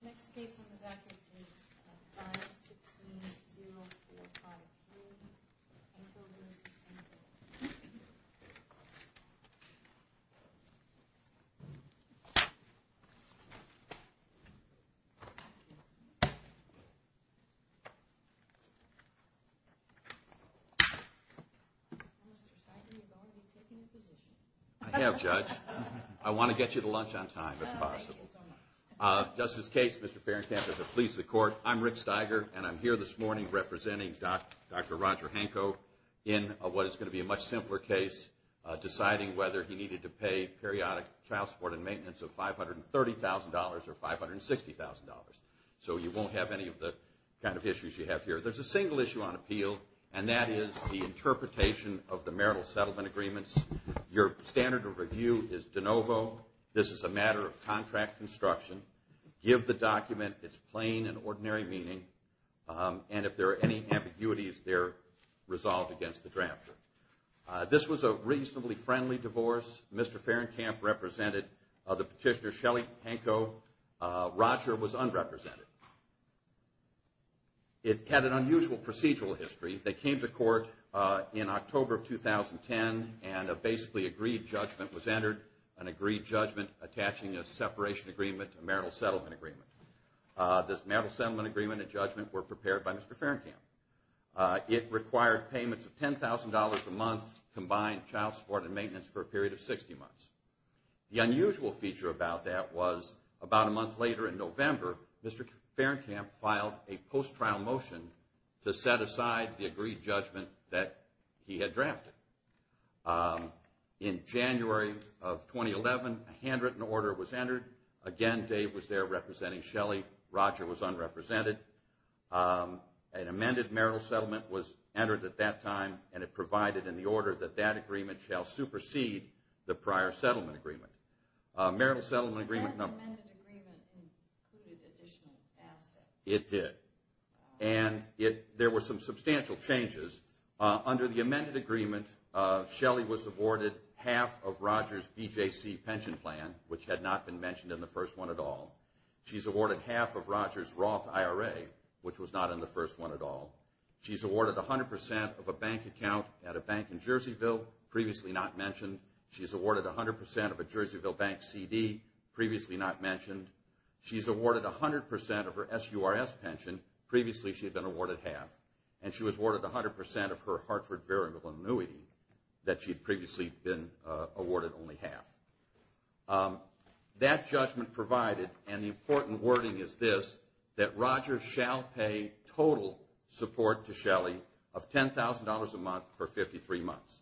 The next case on the deck is 5-16-0453, Hanko v. Stanko. Mr. Stanko, you've already taken a position. I have, Judge. I want to get you to lunch on time, if possible. Just this case, Mr. Ferencanter, to please the Court. I'm Rick Steiger, and I'm here this morning representing Dr. Roger Hanko in what is going to be a much simpler case deciding whether he needed to pay periodic child support and maintenance of $530,000 or $560,000. So you won't have any of the kind of issues you have here. There's a single issue on appeal, and that is the interpretation of the marital settlement agreements. Your standard of review is de novo. This is a matter of contract construction. Give the document its plain and ordinary meaning, and if there are any ambiguities, they're resolved against the drafter. This was a reasonably friendly divorce. Mr. Ferencanter represented the petitioner, Shelly Hanko. Roger was unrepresented. It had an unusual procedural history. They came to court in October of 2010, and a basically agreed judgment was entered, an agreed judgment attaching a separation agreement, a marital settlement agreement. This marital settlement agreement and judgment were prepared by Mr. Ferencanter. It required payments of $10,000 a month, combined child support and maintenance for a period of 60 months. The unusual feature about that was about a month later in November, Mr. Ferencanter filed a post-trial motion to set aside the agreed judgment that he had drafted. In January of 2011, a handwritten order was entered. Again, Dave was there representing Shelly. Roger was unrepresented. An amended marital settlement was entered at that time, and it provided in the order that that agreement shall supersede the prior settlement agreement. But that amended agreement included additional assets. It did, and there were some substantial changes. Under the amended agreement, Shelly was awarded half of Roger's BJC pension plan, which had not been mentioned in the first one at all. She's awarded half of Roger's Roth IRA, which was not in the first one at all. She's awarded 100% of a bank account at a bank in Jerseyville, previously not mentioned. She's awarded 100% of a Jerseyville bank CD, previously not mentioned. She's awarded 100% of her SURS pension, previously she had been awarded half. And she was awarded 100% of her Hartford variable annuity, that she had previously been awarded only half. That judgment provided, and the important wording is this, that Roger shall pay total support to Shelly of $10,000 a month for 53 months.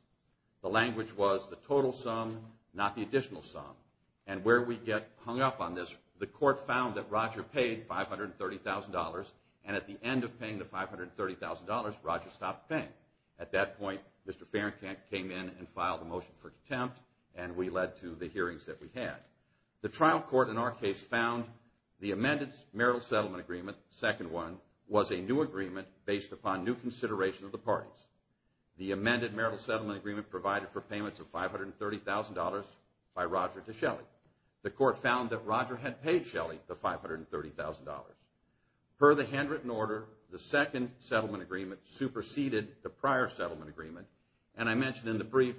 The language was the total sum, not the additional sum. And where we get hung up on this, the court found that Roger paid $530,000, and at the end of paying the $530,000, Roger stopped paying. At that point, Mr. Farrington came in and filed a motion for contempt, and we led to the hearings that we had. The trial court in our case found the amended marital settlement agreement, second one, was a new agreement based upon new consideration of the parties. The amended marital settlement agreement provided for payments of $530,000 by Roger to Shelly. The court found that Roger had paid Shelly the $530,000. Per the handwritten order, the second settlement agreement superseded the prior settlement agreement, and I mentioned in the brief,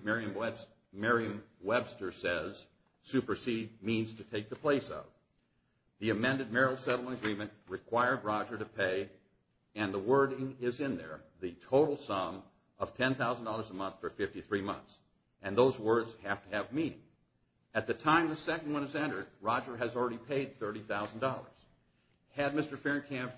Merriam-Webster says supersede means to take the place of. The amended marital settlement agreement required Roger to pay, and the wording is in there, the total sum of $10,000 a month for 53 months, and those words have to have meaning. At the time the second one is entered, Roger has already paid $30,000. Had Mr. Farrington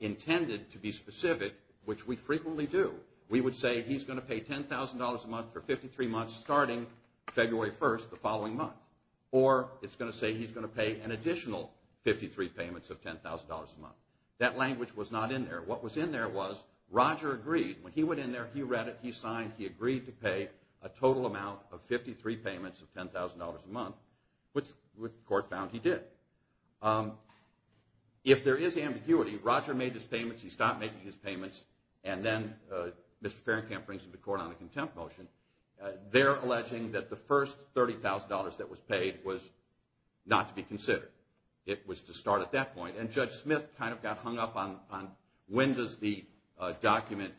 intended to be specific, which we frequently do, we would say he's going to pay $10,000 a month for 53 months starting February 1st, the following month, or it's going to say he's going to pay an additional 53 payments of $10,000 a month. That language was not in there. What was in there was Roger agreed. When he went in there, he read it, he signed, he agreed to pay a total amount of 53 payments of $10,000 a month, which the court found he did. If there is ambiguity, Roger made his payments, he stopped making his payments, and then Mr. Farrington brings it to court on a contempt motion. They're alleging that the first $30,000 that was paid was not to be considered. It was to start at that point. And Judge Smith kind of got hung up on when does the document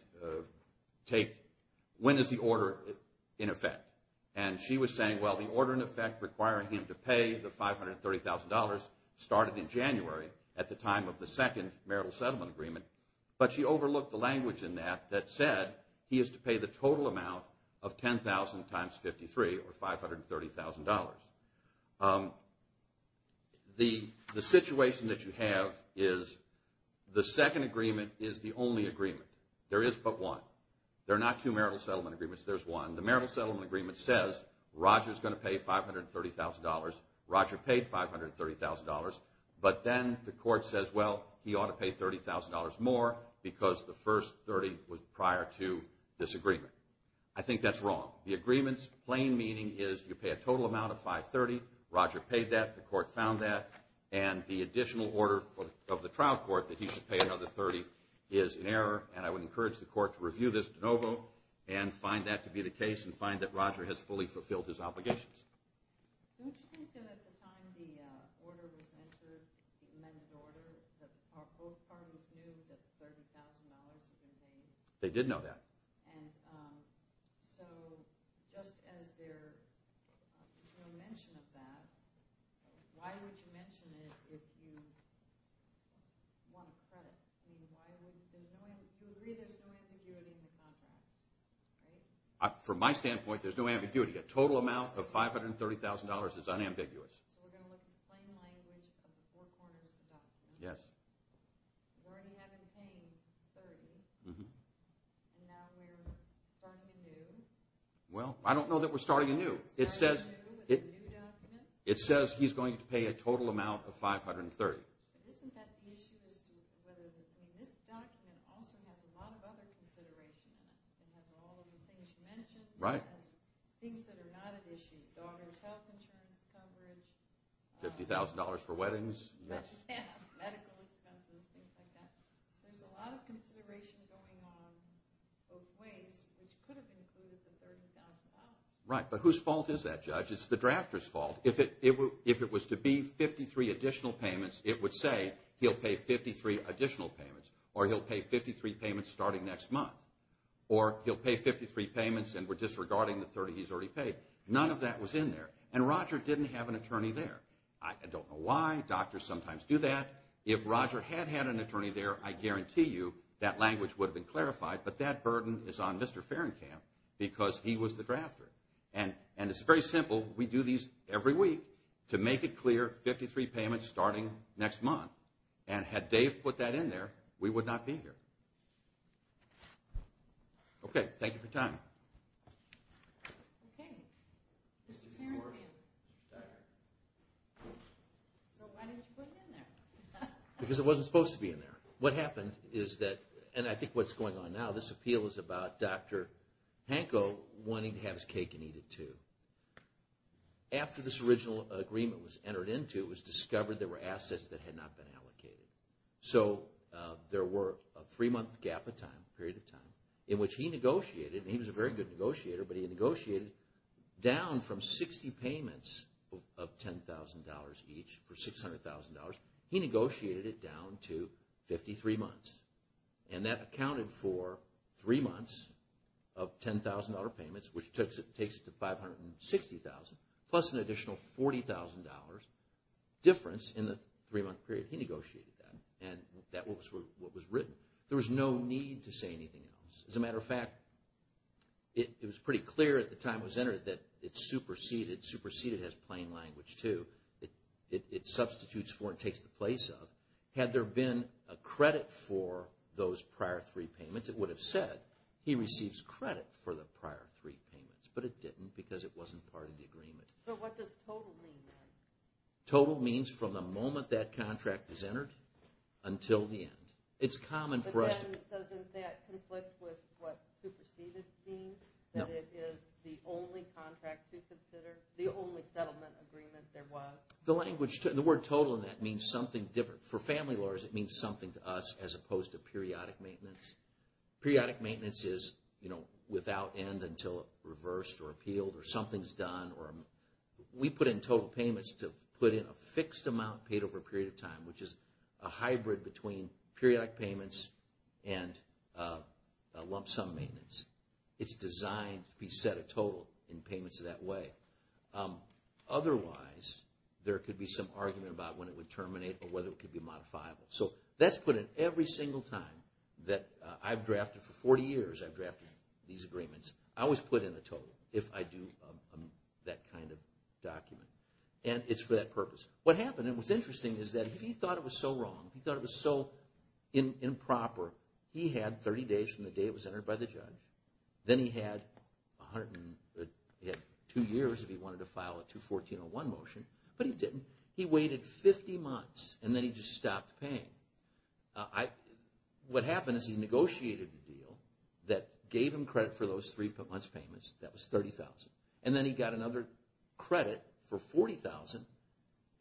take, when is the order in effect? And she was saying, well, the order in effect requiring him to pay the $530,000 started in January at the time of the second marital settlement agreement, but she overlooked the language in that that said he is to pay the total amount of $10,000 times 53, or $530,000. The situation that you have is the second agreement is the only agreement. There is but one. There are not two marital settlement agreements. There's one. The marital settlement agreement says Roger is going to pay $530,000. Roger paid $530,000, but then the court says, well, he ought to pay $30,000 more because the first 30 was prior to this agreement. I think that's wrong. The agreement's plain meaning is you pay a total amount of $530,000. Roger paid that. The court found that. And the additional order of the trial court that he should pay another $30,000 is in error, and I would encourage the court to review this de novo and find that to be the case and find that Roger has fully fulfilled his obligations. Don't you think that at the time the order was entered, the amended order, both parties knew that $30,000 had been paid? They did know that. And so just as there is no mention of that, why would you mention it if you want a credit? I mean, do you agree there's no ambiguity in the contract? From my standpoint, there's no ambiguity. A total amount of $530,000 is unambiguous. So we're going to look at plain language of the four corners of the document. Yes. We're already having him pay $30,000, and now we're starting anew. Well, I don't know that we're starting anew. Starting anew with a new document? It says he's going to pay a total amount of $530,000. Isn't that the issue as to whether this document also has a lot of other consideration in it? It has all of the things you mentioned. It has things that are not at issue, daughter's health insurance coverage. $50,000 for weddings, yes. Medical expenses, things like that. So there's a lot of consideration going on of ways which could have included the $30,000. Right, but whose fault is that, Judge? It's the drafter's fault. If it was to be 53 additional payments, it would say he'll pay 53 additional payments, or he'll pay 53 payments starting next month, or he'll pay 53 payments and we're disregarding the 30 he's already paid. None of that was in there. And Roger didn't have an attorney there. I don't know why. Doctors sometimes do that. If Roger had had an attorney there, I guarantee you that language would have been clarified, but that burden is on Mr. Ferencamp because he was the drafter. And it's very simple. We do these every week to make it clear 53 payments starting next month. And had Dave put that in there, we would not be here. Okay, thank you for your time. Okay, Mr. Ferencamp, so why didn't you put it in there? Because it wasn't supposed to be in there. What happened is that, and I think what's going on now, this appeal is about Dr. Hanco wanting to have his cake and eat it too. After this original agreement was entered into, it was discovered there were assets that had not been allocated. So there were a three-month gap of time, period of time, in which he negotiated, and he was a very good negotiator, but he negotiated down from 60 payments of $10,000 each for $600,000, he negotiated it down to 53 months. And that accounted for three months of $10,000 payments, which takes it to $560,000, plus an additional $40,000 difference in the three-month period. He negotiated that, and that was what was written. There was no need to say anything else. As a matter of fact, it was pretty clear at the time it was entered that it's superseded. Superseded has plain language too. It substitutes for and takes the place of. Had there been a credit for those prior three payments, it would have said, he receives credit for the prior three payments. But it didn't because it wasn't part of the agreement. So what does total mean then? Total means from the moment that contract is entered until the end. Doesn't that conflict with what superseded means, that it is the only contract to consider, the only settlement agreement there was? The word total in that means something different. For family lawyers, it means something to us as opposed to periodic maintenance. Periodic maintenance is without end until it's reversed or appealed or something's done. We put in total payments to put in a fixed amount paid over a period of time, which is a hybrid between periodic payments and lump sum maintenance. It's designed to be set at total in payments that way. Otherwise, there could be some argument about when it would terminate or whether it could be modifiable. So that's put in every single time that I've drafted for 40 years, I've drafted these agreements. I always put in a total if I do that kind of document. And it's for that purpose. What happened, and what's interesting, is that if he thought it was so wrong, if he thought it was so improper, he had 30 days from the day it was entered by the judge. Then he had two years if he wanted to file a 214-01 motion, but he didn't. He waited 50 months, and then he just stopped paying. What happened is he negotiated the deal that gave him credit for those three months payments. That was $30,000. And then he got another credit for $40,000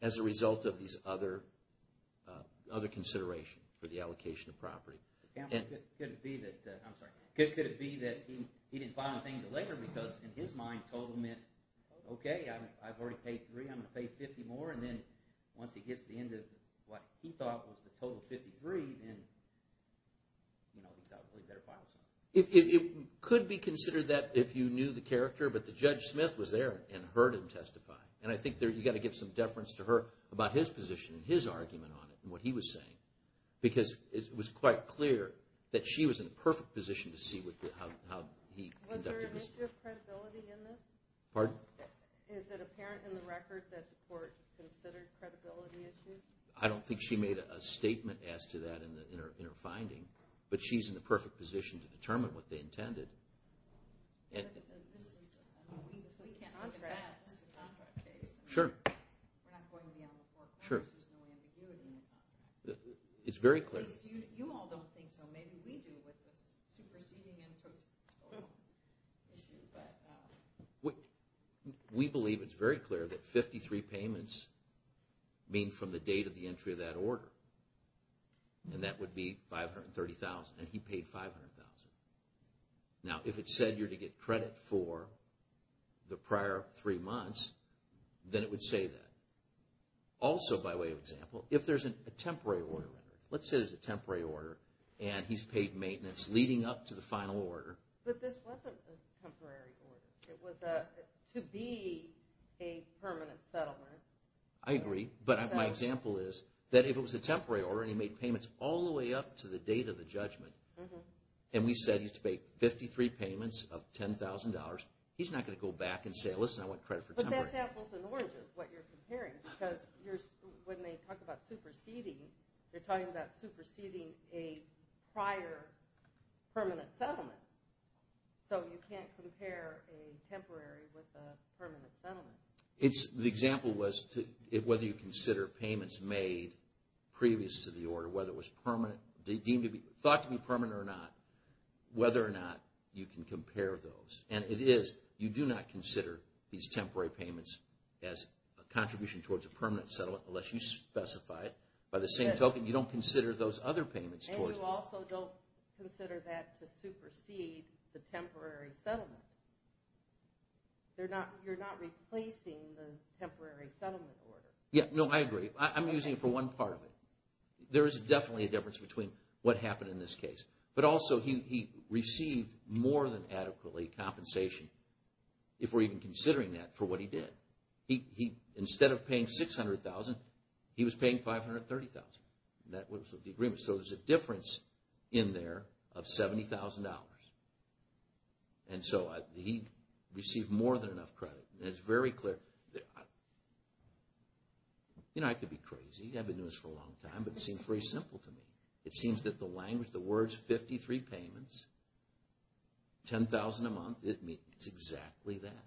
as a result of his other consideration for the allocation of property. Could it be that he didn't file anything until later because, in his mind, total meant, okay, I've already paid three, I'm going to pay 50 more. And then once he gets to the end of what he thought was the total 53, then he thought, well, he better file something. It could be considered that if you knew the character, but the Judge Smith was there and heard him testify. And I think you've got to give some deference to her about his position and his argument on it and what he was saying. Because it was quite clear that she was in the perfect position to see how he conducted this. Was there an issue of credibility in this? Pardon? Is it apparent in the record that the court considered credibility issues? I don't think she made a statement as to that in her finding, but she's in the perfect position to determine what they intended. This is a contract case. Sure. We're not going to be on the forecourt because there's no ambiguity in the contract. It's very clear. At least you all don't think so. Maybe we do with this superseding and total issue. We believe it's very clear that 53 payments mean from the date of the entry of that order. And that would be $530,000, and he paid $500,000. Now, if it said you're to get credit for the prior three months, then it would say that. Also, by way of example, if there's a temporary order, let's say there's a temporary order and he's paid maintenance leading up to the final order. But this wasn't a temporary order. It was to be a permanent settlement. I agree. But my example is that if it was a temporary order and he made payments all the way up to the date of the judgment, and we said he's to pay 53 payments of $10,000, he's not going to go back and say, listen, I want credit for temporary. But that's apples and oranges, what you're comparing, because when they talk about superseding, they're talking about superseding a prior permanent settlement. So you can't compare a temporary with a permanent settlement. The example was whether you consider payments made previous to the order, whether it was thought to be permanent or not, whether or not you can compare those. And it is. You do not consider these temporary payments as a contribution towards a permanent settlement unless you specify it. By the same token, you don't consider those other payments. And you also don't consider that to supersede the temporary settlement. You're not replacing the temporary settlement order. Yeah, no, I agree. I'm using it for one part of it. There is definitely a difference between what happened in this case. But also, he received more than adequately compensation, if we're even considering that, for what he did. Instead of paying $600,000, he was paying $530,000. That was the agreement. So there's a difference in there of $70,000. And so he received more than enough credit. And it's very clear. You know, I could be crazy. I've been doing this for a long time. But it seems very simple to me. It seems that the language, the words, 53 payments, $10,000 a month, it's exactly that.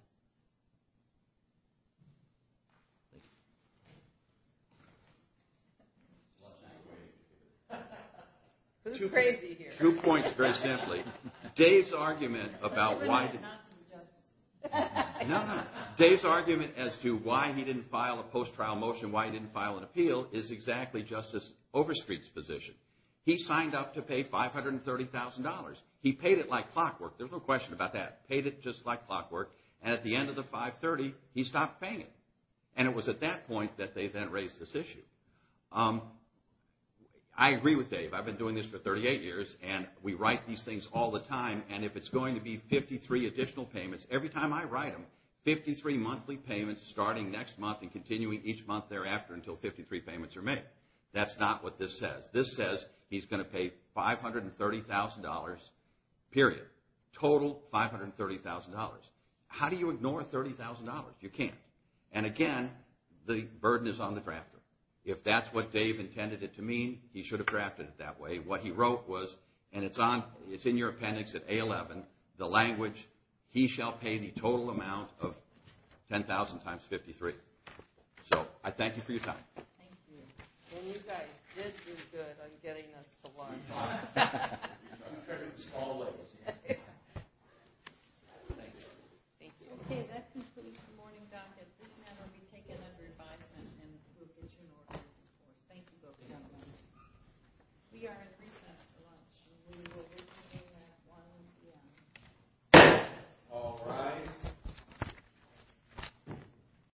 Who's crazy here? Two points, very simply. Dave's argument about why. Dave's argument as to why he didn't file a post-trial motion, why he didn't file an appeal, is exactly Justice Overstreet's position. He signed up to pay $530,000. He paid it like clockwork. There's no question about that. Paid it just like clockwork. And at the end of the 530, he stopped paying it. And it was at that point that they then raised this issue. I agree with Dave. I've been doing this for 38 years. And we write these things all the time. And if it's going to be 53 additional payments, every time I write them, 53 monthly payments starting next month and continuing each month thereafter until 53 payments are made. That's not what this says. This says he's going to pay $530,000, period, total $530,000. How do you ignore $30,000? You can't. And, again, the burden is on the drafter. If that's what Dave intended it to mean, he should have drafted it that way. What he wrote was, and it's in your appendix at A11, the language, he shall pay the total amount of $10,000 times 53. So I thank you for your time. Thank you. Well, you guys did do good on getting us to lunch. I'm sure it was all worth it. Thank you. Okay, that concludes the morning docket. This matter will be taken under advisement, and we'll get you an order. Thank you, both gentlemen. We are at recess for lunch, and we will meet again at 1 p.m. All rise.